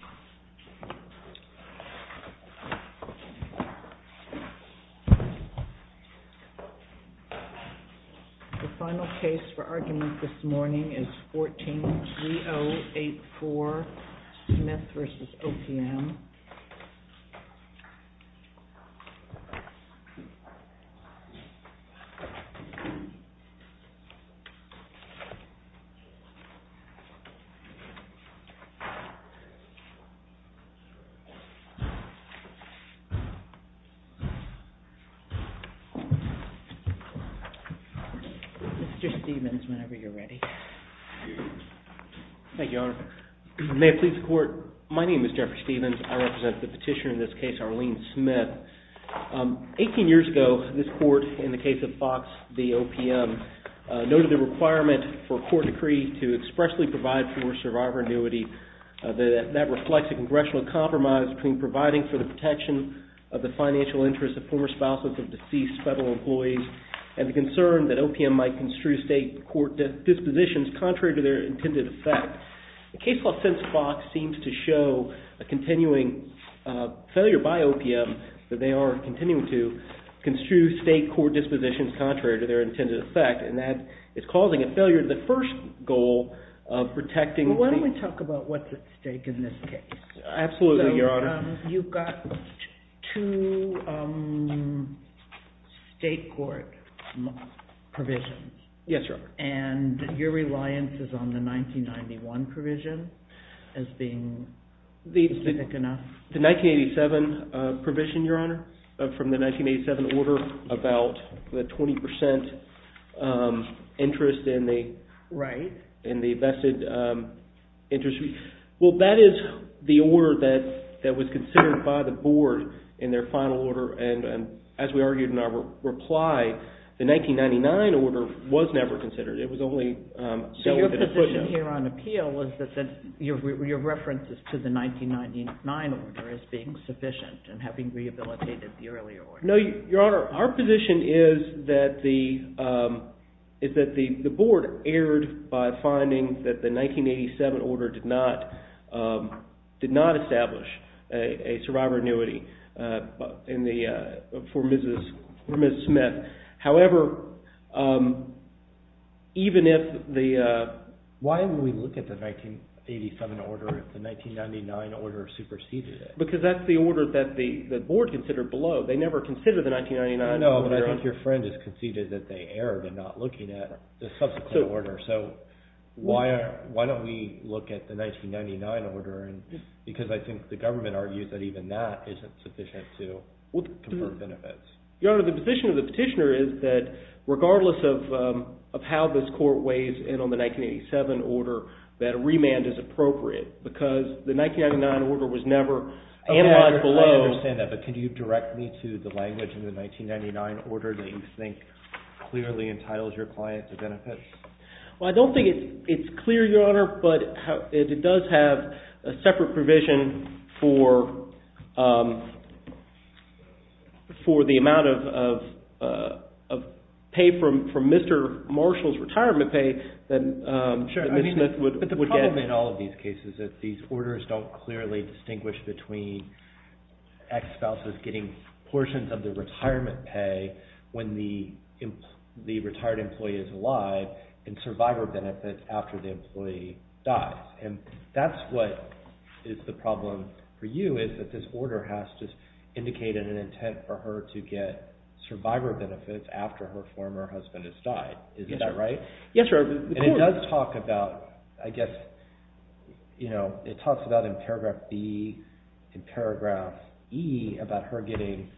The final case for argument this morning is 14-3084, Smith v. OPM. May it please the court, my name is Jeffrey Stevens, I represent the petitioner in this case, Arlene Smith. 18 years ago, this court, in the case of Fox v. OPM, noted the requirement for a court that reflects a congressional compromise between providing for the protection of the financial interests of former spouses of deceased federal employees, and the concern that OPM might construe state court dispositions contrary to their intended effect. The case law since Fox seems to show a continuing failure by OPM that they are continuing to construe state court dispositions contrary to their intended effect, and that is causing a failure to the first goal of protecting the… So, you've got two state court provisions, and your reliance is on the 1991 provision as being specific enough? The 1987 provision, your honor, from the 1987 order, about the 20% interest in the vested interest. Well, that is the order that was considered by the board in their final order, and as we argued in our reply, the 1999 order was never considered. It was only… So, your position here on appeal is that your references to the 1999 order as being sufficient and having rehabilitated the earlier order? No, your honor. Our position is that the board erred by finding that the 1987 order did not establish a survivor annuity for Ms. Smith, however, even if the… Why would we look at the 1987 order if the 1999 order superseded it? Because that's the order that the board considered below. They never considered the 1999 order. No, but I think your friend has conceded that they erred in not looking at the subsequent order. So, why don't we look at the 1999 order, because I think the government argues that even that isn't sufficient to confer benefits. Your honor, the position of the petitioner is that regardless of how this court weighs in on the 1987 order, that a remand is appropriate, because the 1999 order was never analyzed below… So, is there a difference to the language in the 1999 order that you think clearly entitles your client to benefits? Well, I don't think it's clear, your honor, but it does have a separate provision for the amount of pay from Mr. Marshall's retirement pay that Ms. Smith would get. Sure, I mean, but the problem in all of these cases is that these orders don't clearly distinguish between ex-spouses getting portions of their retirement pay when the retired employee is alive, and survivor benefits after the employee dies. And that's what is the problem for you, is that this order has just indicated an intent for her to get survivor benefits after her former husband has died. Isn't that right? Yes, your honor. And it does talk about, I guess, it talks about in paragraph B, in paragraph E, about her getting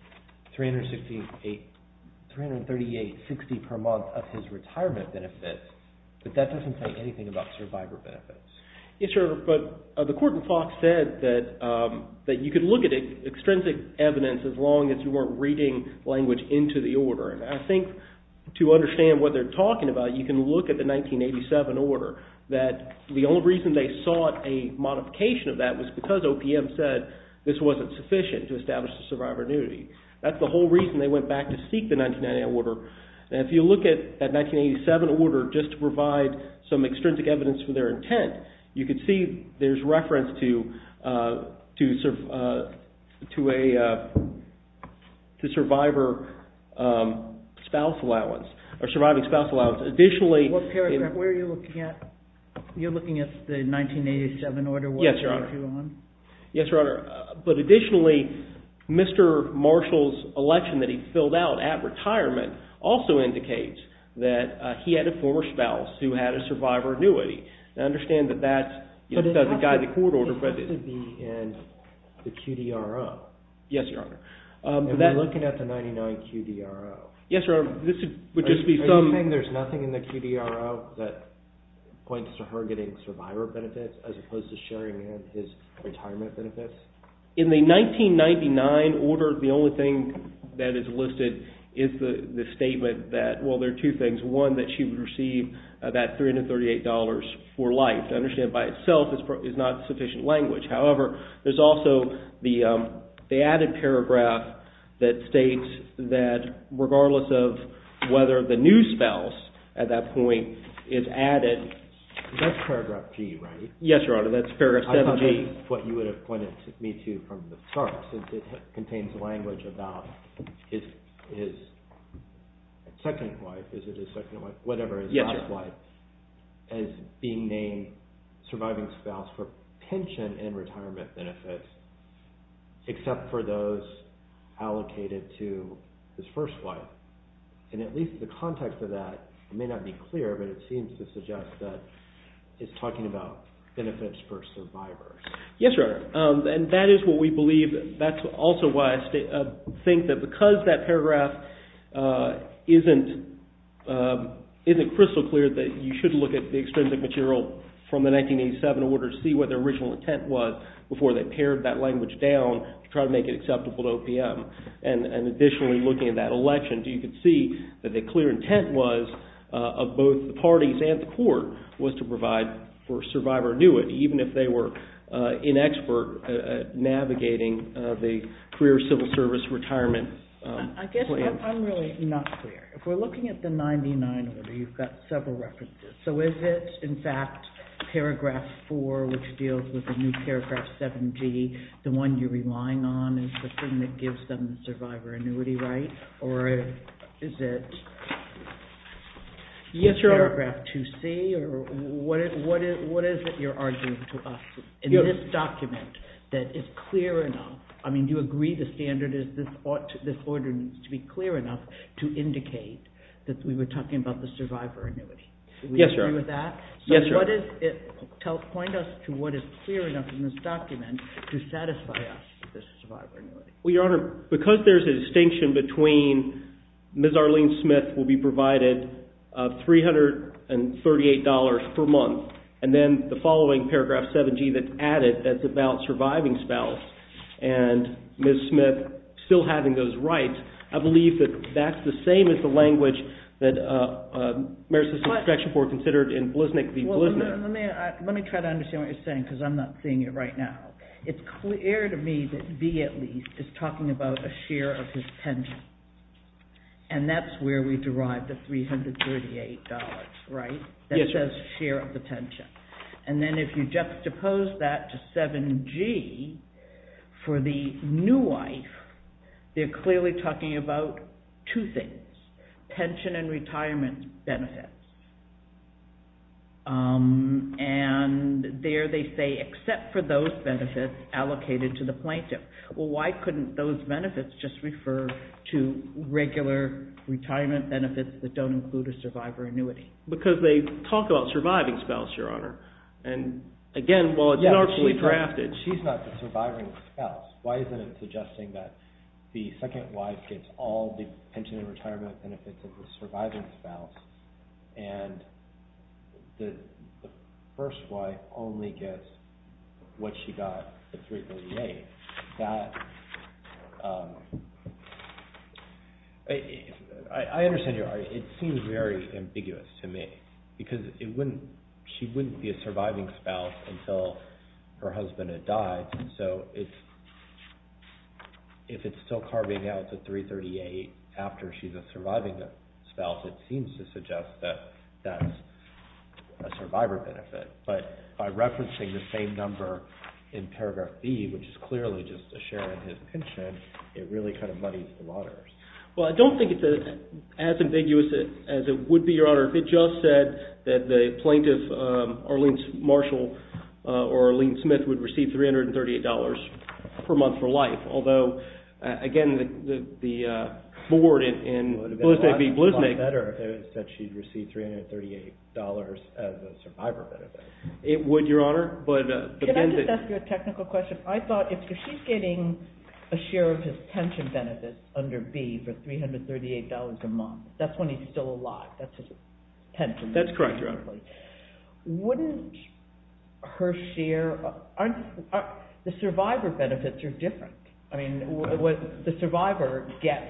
$338.60 per month of his retirement benefits, but that doesn't say anything about survivor benefits. Yes, your honor, but the court in Fox said that you could look at extrinsic evidence as long as you weren't reading language into the order, and I think to understand what happened in the 1987 order, that the only reason they sought a modification of that was because OPM said this wasn't sufficient to establish the survivor duty. That's the whole reason they went back to seek the 1990 order. And if you look at that 1987 order, just to provide some extrinsic evidence for their intent, you could see there's reference to survivor spouse allowance, or surviving spouse allowance. What paragraph? Where are you looking at? You're looking at the 1987 order, wasn't it? Yes, your honor. Yes, your honor. But additionally, Mr. Marshall's election that he filled out at retirement also indicates that he had a former spouse who had a survivor annuity. Now, understand that that doesn't guide the court order, but it's the end of the QDRO. Yes, your honor. And we're looking at the 99 QDRO. Yes, your honor. Are you saying there's nothing in the QDRO that points to her getting survivor benefits as opposed to sharing in his retirement benefits? In the 1999 order, the only thing that is listed is the statement that, well, there are two things. One, that she would receive that $338 for life, to understand by itself is not sufficient language. However, there's also the added paragraph that states that regardless of whether the new spouse, at that point, is added. That's paragraph G, right? Yes, your honor. That's paragraph 7G. I thought that's what you would have pointed me to from the start, since it contains language about his second wife, is it his second wife, whatever, his last wife, as being named surviving spouse for pension and retirement benefits, except for those allocated to his first wife. And at least the context of that may not be clear, but it seems to suggest that it's talking about benefits for survivors. Yes, your honor. And that is what we believe. That's also why I think that because that paragraph isn't crystal clear that you should look at the extrinsic material from the 1987 order to see what their original intent was before they pared that language down to try to make it acceptable to OPM. And additionally, looking at that election, you can see that the clear intent was, of both the parties and the court, was to provide for survivor annuit, even if they were inexpert at navigating the career civil service retirement plan. I guess I'm really not clear. If we're looking at the 99 order, you've got several references. So is it, in fact, paragraph 4, which deals with the new paragraph 7g, the one you're relying on, is the thing that gives them the survivor annuity right? Or is it paragraph 2c? What is it you're arguing to us in this document that is clear enough? I mean, do you agree the standard is this order needs to be clear enough to indicate that we were talking about the survivor annuity? Yes, Your Honor. Do you agree with that? Yes, Your Honor. So what is it? Point us to what is clear enough in this document to satisfy us with this survivor annuity. Well, Your Honor, because there's a distinction between Ms. Arlene Smith will be provided $338 per month, and then the following paragraph 7g that's added that's about surviving spouse and Ms. Smith still having those rights, I believe that that's the same as the language that Maris' inspection board considered in Bliznik v. Bliznik. Well, let me try to understand what you're saying because I'm not seeing it right now. It's clear to me that v at least is talking about a share of his pension. And that's where we derive the $338, right, that says share of the pension. And then if you juxtapose that to 7g for the new wife, they're clearly talking about two things, pension and retirement benefits, and there they say except for those benefits allocated to the plaintiff. Well, why couldn't those benefits just refer to regular retirement benefits that don't include a survivor annuity? Because they talk about surviving spouse, Your Honor. And again, well, it's not actually drafted. She's not the surviving spouse. Why isn't it suggesting that the second wife gets all the pension and retirement benefits of the surviving spouse and the first wife only gets what she got, the $338? I understand, Your Honor, it seems very ambiguous to me because it wouldn't, she wouldn't be a surviving spouse until her husband had died. So if it's still carving out the $338 after she's a surviving spouse, it seems to suggest that that's a survivor benefit. But by referencing the same number in paragraph B, which is clearly just a share in his pension, it really kind of muddies the waters. Well, I don't think it's as ambiguous as it would be, Your Honor. If it just said that the plaintiff, Arlene Marshall or Arlene Smith, would receive $338 per month for life, although again, the board in Bluesnake v. Bluesnake. It would be a lot better if it said she'd receive $338 as a survivor benefit. It would, Your Honor, but again. Can I just ask you a technical question? I thought if she's getting a share of his pension benefits under B for $338 a month, that's when he's still alive, that's his pension. That's correct, Your Honor. Wouldn't her share, aren't, the survivor benefits are different. I mean, what the survivor gets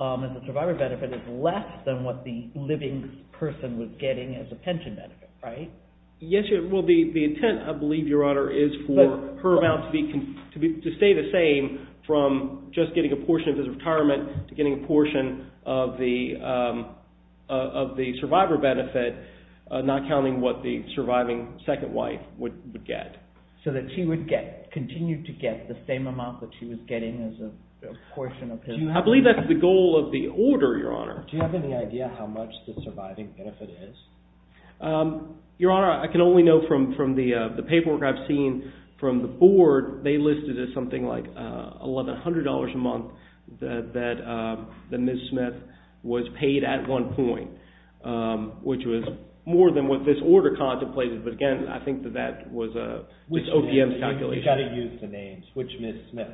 as a survivor benefit is less than what the living person was getting as a pension benefit, right? Yes, Your Honor. Well, the intent, I believe, Your Honor, is for her amount to stay the same from just getting a portion of his retirement to getting a portion of the survivor benefit, not counting what the surviving second wife would get. So that she would get, continue to get the same amount that she was getting as a portion of his. I believe that's the goal of the order, Your Honor. Do you have any idea how much the surviving benefit is? Your Honor, I can only know from the paperwork I've seen from the board. They listed it as something like $1,100 a month that Ms. Smith was paid at one point, which was more than what this order contemplated. But again, I think that that was just OPM's calculation. You've got to use the names. Which Ms. Smith?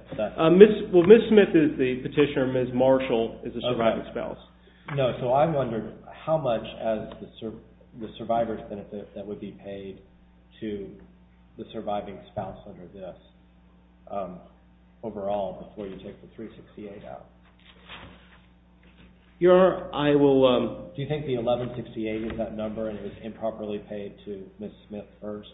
Well, Ms. Smith is the petitioner. Ms. Marshall is the surviving spouse. Oh, right. No, so I wondered how much as the survivor's benefit that would be paid to the surviving spouse under this overall before you take the $368 out. Your Honor, I will... Do you think the $1,168 is that number and it was improperly paid to Ms. Smith first?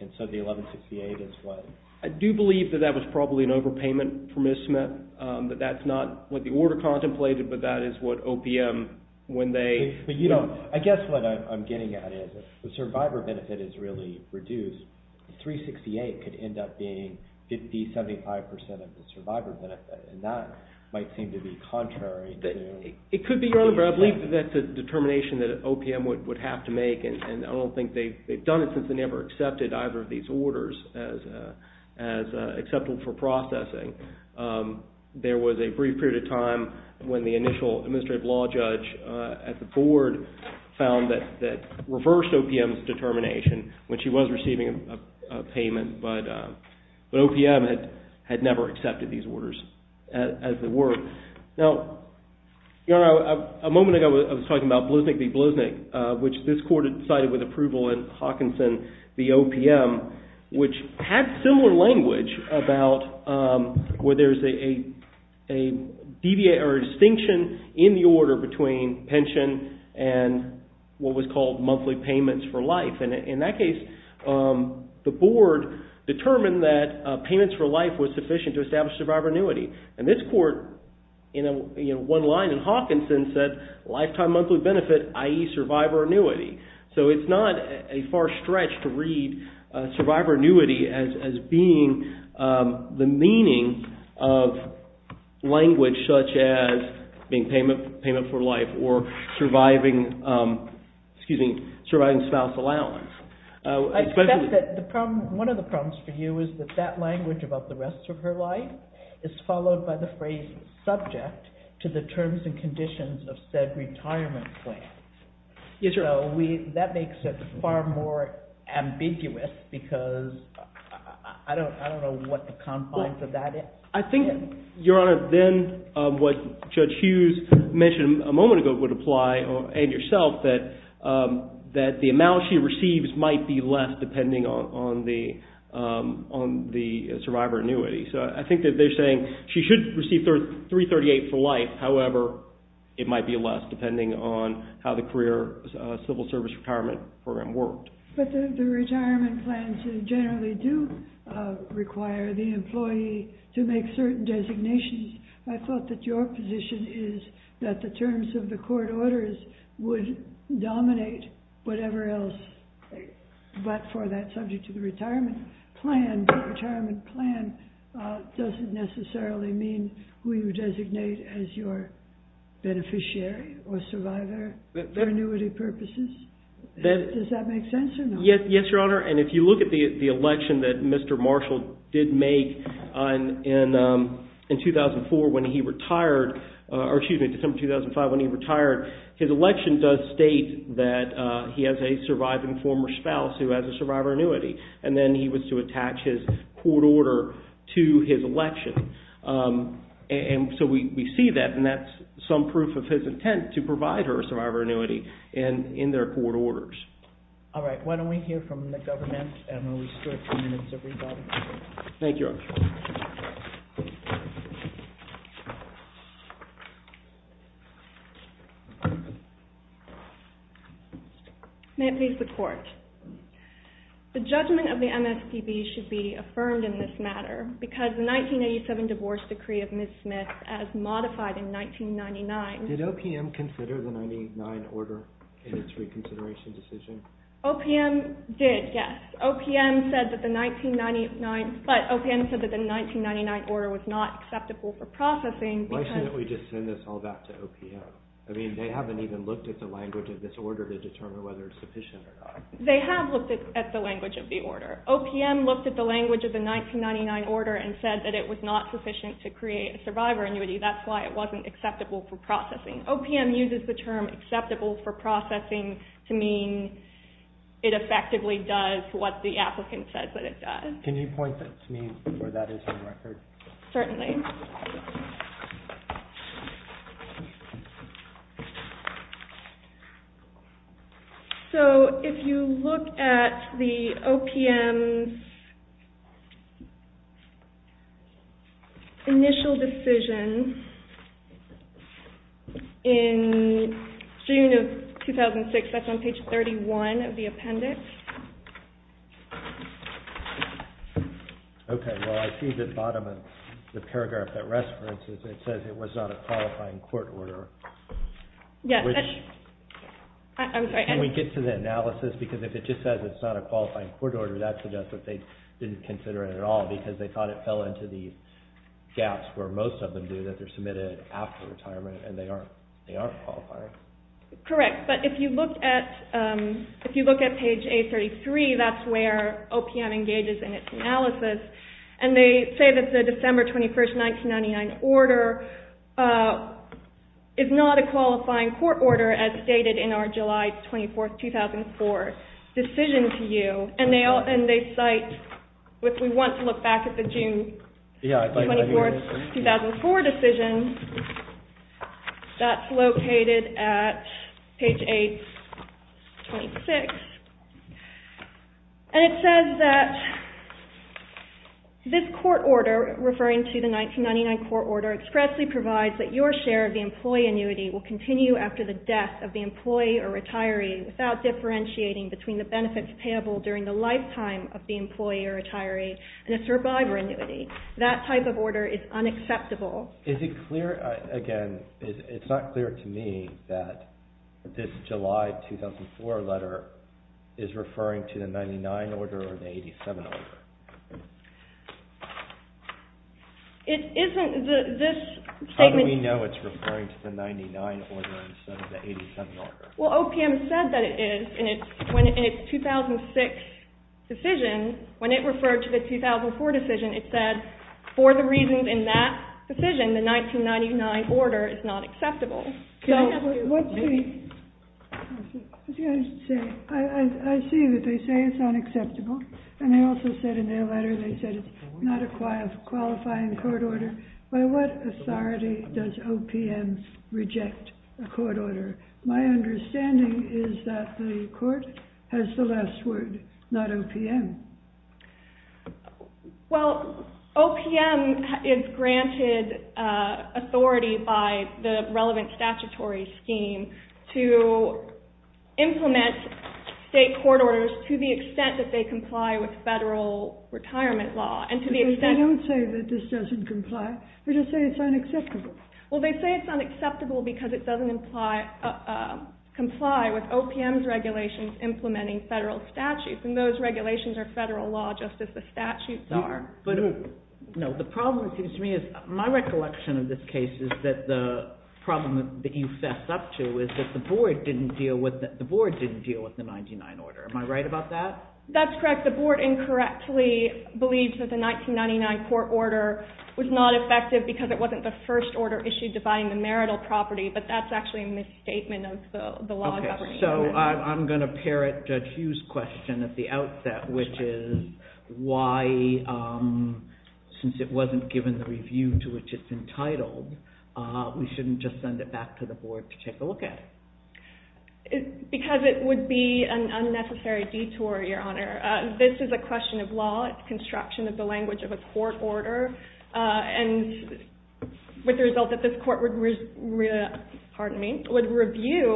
And so the $1,168 is what... I do believe that that was probably an overpayment for Ms. Smith. That that's not what the order contemplated, but that is what OPM, when they... I guess what I'm getting at is the survivor benefit is really reduced. $368 could end up being 50%, 75% of the survivor benefit. And that might seem to be contrary to... It could be, Your Honor, but I believe that that's a determination that OPM would have to make. And I don't think they've done it since they never accepted either of these orders as acceptable for processing. There was a brief period of time when the initial administrative law judge at the board found that reversed OPM's determination when she was receiving a payment. But OPM had never accepted these orders as they were. Now, Your Honor, a moment ago I was talking about Bluznik v. Bluznik, which this court had decided with approval in Hawkinson v. OPM, which had similar language about where there's a distinction in the order between pension and what was called monthly payments for life. And in that case, the board determined that payments for life was sufficient to establish survivor annuity. And this court, in one line in Hawkinson, said lifetime monthly benefit, i.e., survivor annuity. So it's not a far stretch to read survivor annuity as being the meaning of language such as being payment for life or surviving spouse allowance. One of the problems for you is that that language about the rest of her life is followed by the phrase subject to the terms and conditions of said retirement plan. So that makes it far more ambiguous because I don't know what the confines of that is. I think, Your Honor, then what Judge Hughes mentioned a moment ago would apply, and yourself, that the amount she receives might be less depending on the survivor annuity. So I think that they're saying she should receive $338 for life. However, it might be less depending on how the career civil service retirement program worked. But the retirement plans generally do require the employee to make certain designations. I thought that your position is that the terms of the court orders would dominate whatever else, but for that subject to the retirement plan, the retirement plan doesn't necessarily mean who you designate as your beneficiary or survivor for annuity purposes. Does that make sense or not? Yes, Your Honor, and if you look at the election that Mr. Marshall did make in 2004 when he retired, or excuse me, December 2005 when he retired, his election does state that he has a surviving former spouse who has a survivor annuity, and then he was to attach his court order to his election. So we see that, and that's some proof of his intent to provide her a survivor annuity in their court orders. All right, why don't we hear from the government, and we'll restart the minutes, everybody. Thank you, Your Honor. May it please the Court. The judgment of the MSPB should be affirmed in this matter because the 1987 divorce decree of Ms. Smith as modified in 1999. Did OPM consider the 1999 order in its reconsideration decision? OPM did, yes. OPM said that the 1999 order was not acceptable for processing. Why shouldn't we just send this all back to OPM? I mean, they haven't even looked at the language of this order to determine whether it's sufficient or not. They have looked at the language of the order. OPM looked at the language of the 1999 order and said that it was not sufficient to create a survivor annuity. That's why it wasn't acceptable for processing. OPM uses the term acceptable for processing to mean it effectively does what the applicant says that it does. Can you point that to me before that is on record? Certainly. Okay. So if you look at the OPM's initial decision in June of 2006, that's on page 31 of the appendix. Okay. Well, I see at the bottom of the paragraph that rests, for instance, it says it was not a qualifying court order. Yes. Can we get to the analysis? Because if it just says it's not a qualifying court order, that suggests that they didn't consider it at all because they thought it fell into the gaps where most of them do, that they're submitted after retirement and they aren't qualifying. Correct. But if you look at page 833, that's where OPM engages in its analysis. And they say that the December 21, 1999 order is not a qualifying court order as stated in our July 24, 2004 decision to you. And they cite, if we want to look back at the June 24, 2004 decision, that's located at page 826. And it says that this court order, referring to the 1999 court order, expressly provides that your share of the employee annuity will continue after the death of the employee or retiree without differentiating between the benefits payable during the lifetime of the employee or retiree and a survivor annuity. That type of order is unacceptable. Is it clear, again, it's not clear to me that this July 2004 letter is referring to the 99 order or the 87 order? It isn't. How do we know it's referring to the 99 order instead of the 87 order? Well, OPM said that it is in its 2006 decision. When it referred to the 2004 decision, it said, for the reasons in that decision, the 1999 order is not acceptable. I see that they say it's unacceptable. And they also said in their letter, they said it's not a qualifying court order. By what authority does OPM reject a court order? My understanding is that the court has the last word, not OPM. Well, OPM is granted authority by the relevant statutory scheme to implement state court orders to the extent that they comply with federal retirement law. They don't say that this doesn't comply. They just say it's unacceptable. Well, they say it's unacceptable because it doesn't comply with OPM's regulations implementing federal statutes. And those regulations are federal law, just as the statutes are. No, the problem, it seems to me, is my recollection of this case is that the problem that you fess up to is that the board didn't deal with the 99 order. Am I right about that? That's correct. The board incorrectly believes that the 1999 court order was not effective because it wasn't the first order issued dividing the marital property. But that's actually a misstatement of the law governing it. So I'm going to parrot Judge Hughes' question at the outset, which is why, since it wasn't given the review to which it's entitled, we shouldn't just send it back to the board to take a look at it. Because it would be an unnecessary detour, Your Honor. This is a question of law. It's construction of the language of a court order. And with the result that this court would review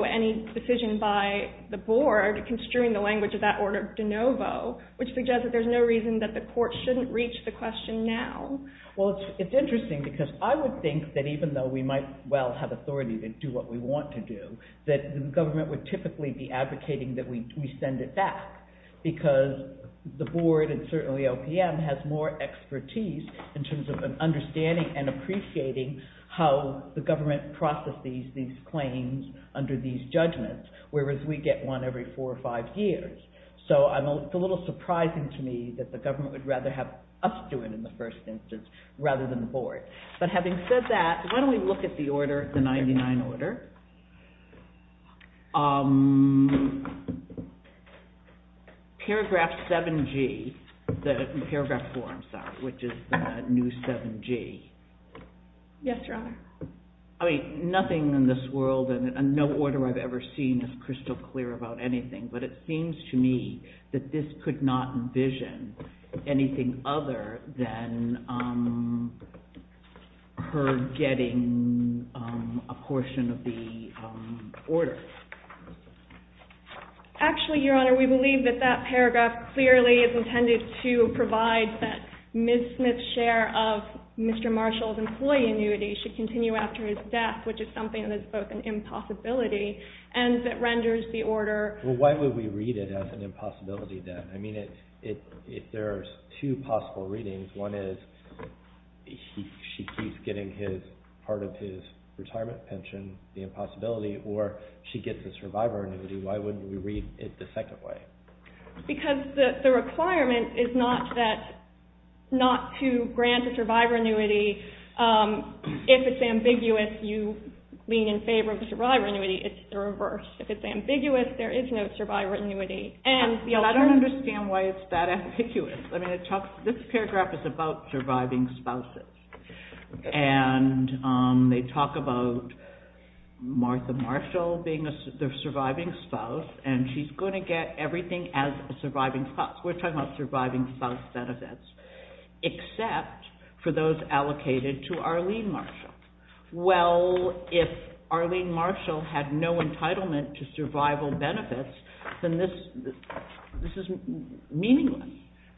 any decision by the board construing the language of that order de novo, which suggests that there's no reason that the court shouldn't reach the question now. Well, it's interesting because I would think that even though we might well have authority to do what we want to do, that the government would typically be advocating that we send it back. Because the board, and certainly OPM, has more expertise in terms of understanding and appreciating how the government processes these claims under these judgments, whereas we get one every four or five years. So it's a little surprising to me that the government would rather have us do it in the first instance rather than the board. But having said that, why don't we look at the order, the 99 order. Paragraph 7G, the paragraph 4, I'm sorry, which is the new 7G. Yes, Your Honor. I mean, nothing in this world and no order I've ever seen is crystal clear about anything. But it seems to me that this could not envision anything other than her getting a portion of the order. Actually, Your Honor, we believe that that paragraph clearly is intended to provide that Ms. Smith's share of Mr. Marshall's employee annuity should continue after his death, which is something that's both an impossibility and that renders the order. Well, why would we read it as an impossibility then? I mean, if there are two possible readings, one is she keeps getting part of his retirement pension, the impossibility, or she gets a survivor annuity, why wouldn't we read it the second way? Because the requirement is not to grant a survivor annuity if it's ambiguous you lean in favor of the survivor annuity. It's the reverse. If it's ambiguous, there is no survivor annuity. I don't understand why it's that ambiguous. I mean, this paragraph is about surviving spouses. And they talk about Martha Marshall being the surviving spouse, and she's going to get everything as a surviving spouse. We're talking about surviving spouse benefits, except for those allocated to Arlene Marshall. Well, if Arlene Marshall had no entitlement to survival benefits, then this is meaningless.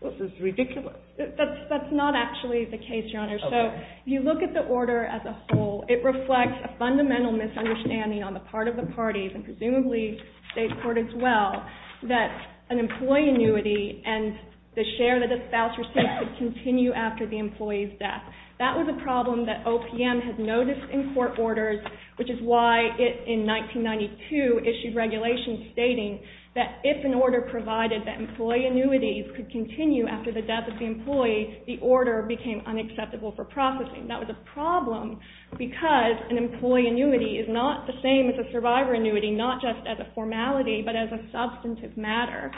This is ridiculous. That's not actually the case, Your Honor. So if you look at the order as a whole, it reflects a fundamental misunderstanding on the part of the parties, and presumably state court as well, that an employee annuity and the share that the spouse received should continue after the employee's death. That was a problem that OPM had noticed in court orders, which is why it, in 1992, issued regulations stating that if an order provided that employee annuities could continue after the death of the employee, the order became unacceptable for processing. That was a problem because an employee annuity is not the same as a survivor annuity, not just as a formality, but as a substantive matter.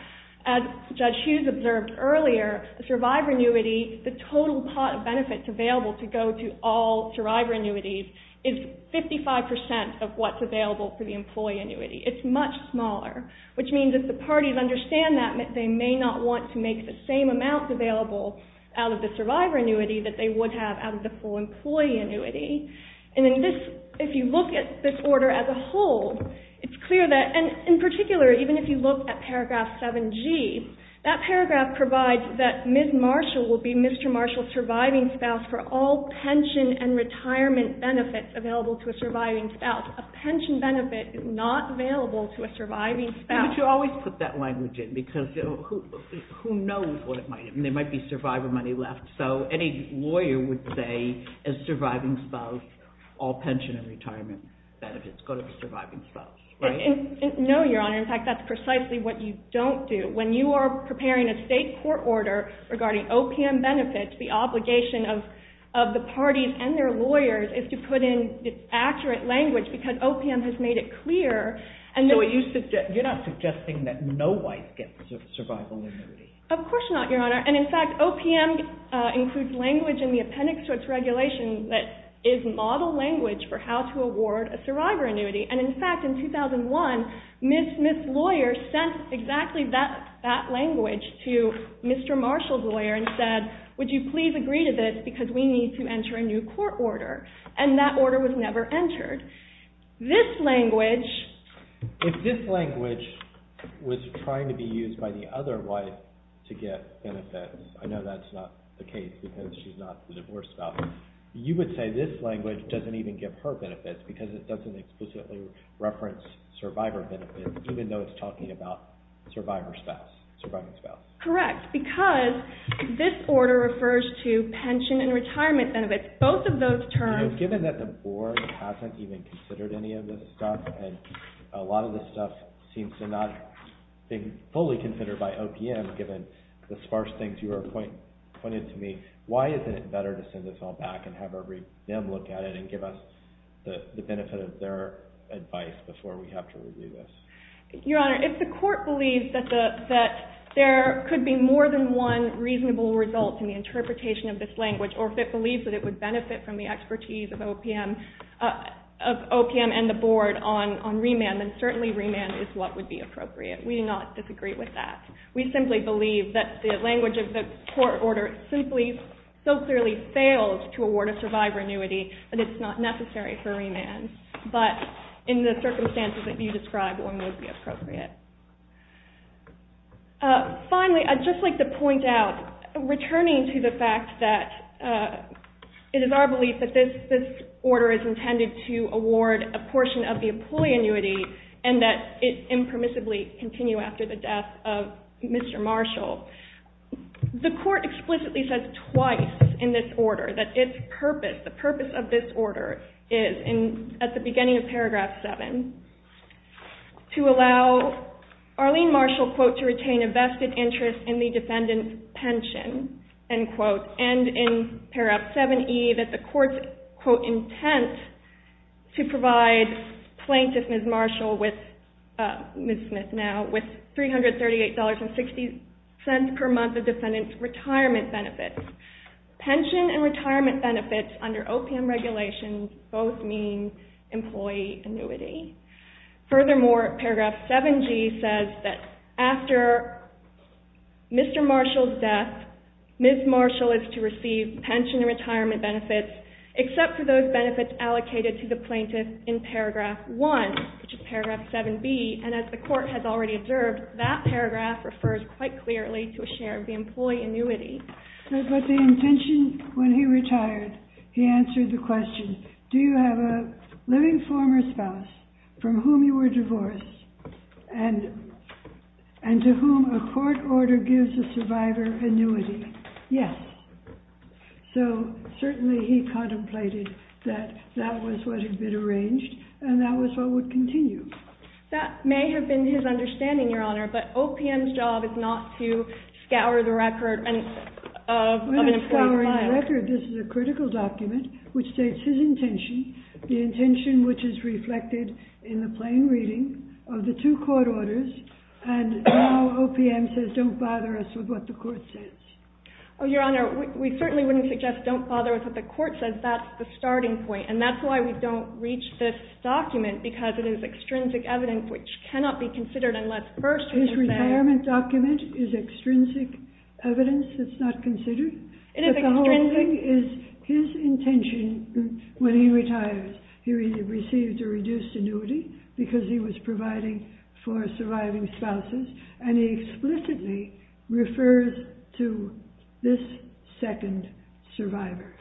As Judge Hughes observed earlier, the survivor annuity, the total pot of benefits available to go to all survivor annuities is 55% of what's available for the employee annuity. It's much smaller, which means that the parties understand that they may not want to make the same amount available out of the survivor annuity that they would have out of the full employee annuity. And then this, if you look at this order as a whole, it's clear that, and in particular, even if you look at paragraph 7G, that paragraph provides that Ms. Marshall will be Mr. Marshall's surviving spouse for all pension and retirement benefits available to a surviving spouse. A pension benefit is not available to a surviving spouse. But you always put that language in because who knows what it might be. There might be survivor money left. So any lawyer would say, as surviving spouse, all pension and retirement benefits go to the surviving spouse, right? No, Your Honor. In fact, that's precisely what you don't do. When you are preparing a state court order regarding OPM benefits, the obligation of the parties and their lawyers is to put in accurate language because OPM has made it clear. So you're not suggesting that no wife gets a survival annuity? Of course not, Your Honor. And in fact, OPM includes language in the appendix to its regulation that is model language for how to award a survivor annuity. And in fact, in 2001, Ms. Smith's lawyer sent exactly that language to Mr. Marshall's lawyer and said, would you please agree to this because we need to enter a new court order? And that order was never entered. This language... If this language was trying to be used by the other wife to get benefits, I know that's not the case because she's not the divorced spouse, you would say this language doesn't even give her benefits because it doesn't explicitly reference survivor benefits, even though it's talking about survivor spouse, surviving spouse. Correct, because this order refers to pension and retirement benefits. Both of those terms... Given that the board hasn't even considered any of this stuff and a lot of this stuff seems to not be fully considered by OPM given the sparse things you are pointing to me, why isn't it better to send this all back and have them look at it and give us the benefit of their advice before we have to review this? Your Honor, if the court believes that there could be more than one reasonable result in the interpretation of this language, or if it believes that it would benefit from the expertise of OPM and the board on remand, then certainly remand is what would be appropriate. We do not disagree with that. We simply believe that the language of the court order simply so clearly fails to award a survivor annuity that it's not necessary for remand. But in the circumstances that you described, one would be appropriate. Finally, I'd just like to point out, returning to the fact that it is our belief that this order is intended to award a portion of the employee annuity and that it impermissibly continue after the death of Mr. Marshall, the court explicitly says twice in this order that its purpose, the purpose of this order is, at the beginning of paragraph 7, to allow Arlene Marshall, quote, to retain a vested interest in the defendant's pension, end quote, and in paragraph 7E that the court's, quote, intent to provide plaintiff Ms. Marshall with, Ms. Smith now, with $338.60 per month of defendant's retirement benefits. Pension and retirement benefits under OPM regulations both mean employee annuity. Furthermore, paragraph 7G says that after Mr. Marshall's death, Ms. Marshall is to receive pension and retirement benefits except for those benefits allocated to the plaintiff in paragraph 1, which is paragraph 7B, and as the court has already observed, that paragraph refers quite clearly to a share of the employee annuity. But the intention when he retired, he answered the question, do you have a living former spouse from whom you were divorced and to whom a court order gives a survivor annuity? Yes. So certainly he contemplated that that was what had been arranged and that was what would continue. That may have been his understanding, Your Honor, but OPM's job is not to scour the record of an employee. We're not scouring the record. This is a critical document which states his intention, the intention which is reflected in the plain reading of the two court orders, and now OPM says don't bother us with what the court says. Oh, Your Honor, we certainly wouldn't suggest don't bother us with what the court says. That's the starting point, and that's why we don't reach this document because it is extrinsic evidence which cannot be considered unless first we say... His retirement document is extrinsic evidence that's not considered? It is extrinsic. But the whole thing is his intention when he retires, he received a reduced annuity because he was providing for surviving spouses, and he explicitly refers to this second survivor.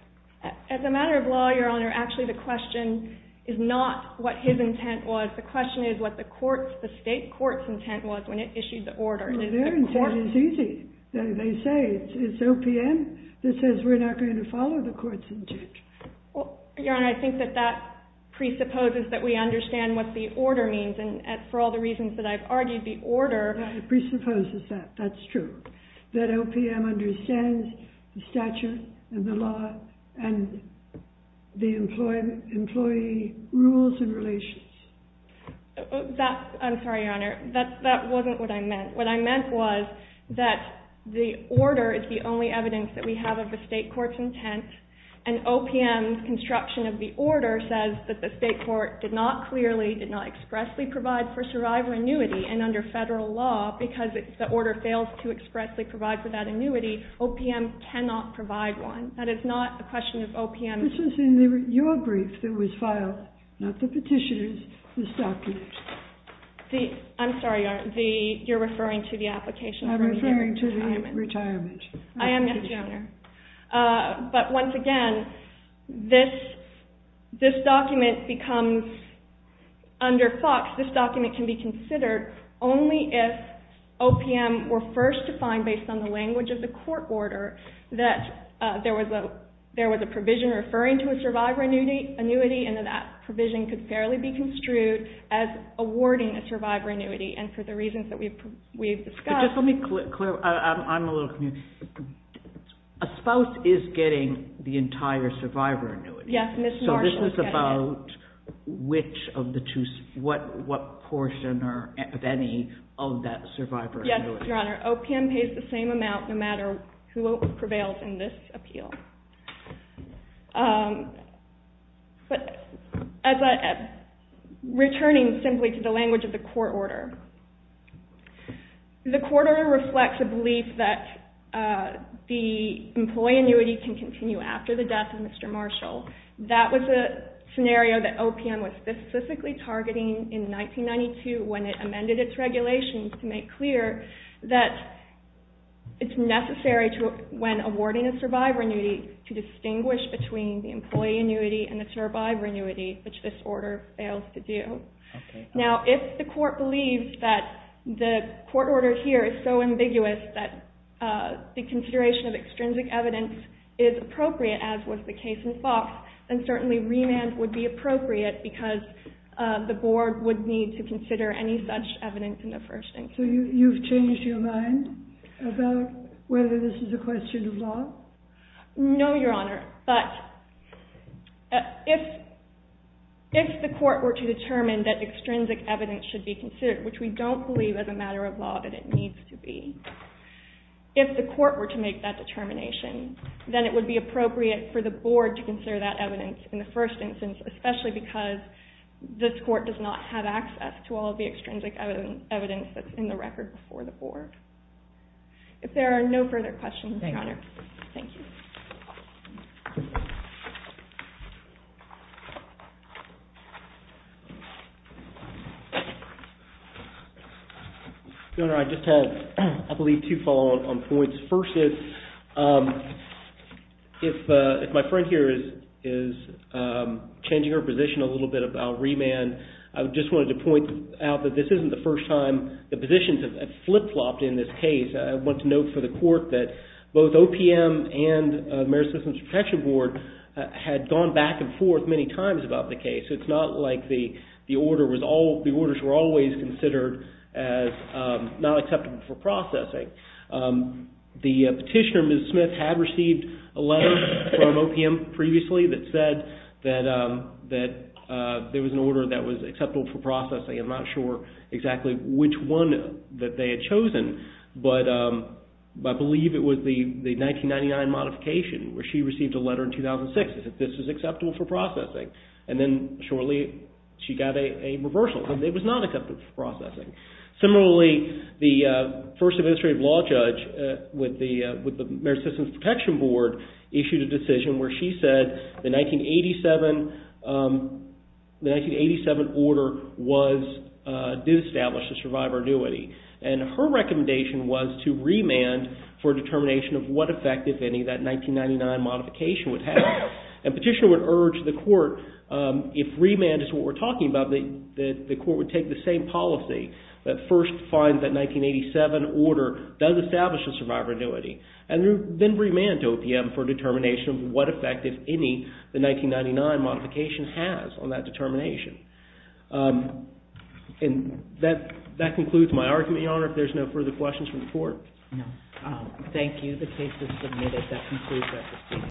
As a matter of law, Your Honor, actually the question is not what his intent was. The question is what the state court's intent was when it issued the order. Their intent is easy. They say it's OPM that says we're not going to follow the court's intent. Your Honor, I think that that presupposes that we understand what the order means, and for all the reasons that I've argued, the order... and the employee rules and relations. I'm sorry, Your Honor. That wasn't what I meant. What I meant was that the order is the only evidence that we have of the state court's intent, and OPM's construction of the order says that the state court did not clearly, did not expressly provide for survivor annuity, and under federal law, because the order fails to expressly provide for that annuity, OPM cannot provide one. That is not a question of OPM. This was in your brief that was filed, not the petitioner's, this document. I'm sorry, Your Honor. You're referring to the application from the retirement. I'm referring to the retirement. I am, yes, Your Honor. But once again, this document becomes, under Fox, this document can be considered only if OPM were first to find, based on the language of the court order, that there was a provision referring to a survivor annuity, and that that provision could fairly be construed as awarding a survivor annuity, and for the reasons that we've discussed... But just let me clarify. I'm a little confused. A spouse is getting the entire survivor annuity. Yes, Ms. Marshall is getting it. So this is about which of the two, what portion of any of that survivor annuity. Your Honor, OPM pays the same amount no matter who prevails in this appeal. But returning simply to the language of the court order, the court order reflects a belief that the employee annuity can continue after the death of Mr. Marshall. That was a scenario that OPM was specifically targeting in 1992 when it amended its regulations to make clear that it's necessary when awarding a survivor annuity to distinguish between the employee annuity and the survivor annuity, which this order fails to do. Now, if the court believes that the court order here is so ambiguous that the consideration of extrinsic evidence is appropriate, as was the case in Fox, then certainly remand would be appropriate because the board would need to consider any such evidence in the first instance. So you've changed your mind about whether this is a question of law? No, Your Honor. But if the court were to determine that extrinsic evidence should be considered, which we don't believe as a matter of law that it needs to be, if the court were to make that determination, then it would be appropriate for the board to consider that evidence in the first instance, especially because this court does not have access to all of the extrinsic evidence that's in the record before the board. If there are no further questions, Your Honor, thank you. Your Honor, I just have, I believe, two follow-on points. The first is, if my friend here is changing her position a little bit about remand, I just wanted to point out that this isn't the first time the positions have flip-flopped in this case. I want to note for the court that both OPM and the Mayor's Systems Protection Board had gone back and forth many times about the case. It's not like the orders were always considered as not acceptable for processing. The petitioner, Ms. Smith, had received a letter from OPM previously that said that there was an order that was acceptable for processing. I'm not sure exactly which one that they had chosen, but I believe it was the 1999 modification where she received a letter in 2006 that said this was acceptable for processing. And then shortly she got a reversal. It was not acceptable for processing. Similarly, the first administrative law judge with the Mayor's Systems Protection Board issued a decision where she said the 1987 order did establish a survivor annuity. And her recommendation was to remand for determination of what effect, if any, that 1999 modification would have. And petitioner would urge the court, if remand is what we're talking about, that the court would take the same policy that first finds that 1987 order does establish a survivor annuity, and then remand to OPM for determination of what effect, if any, the 1999 modification has on that determination. And that concludes my argument, Your Honor. If there's no further questions from the court. Thank you. The case is submitted. That concludes my testimony.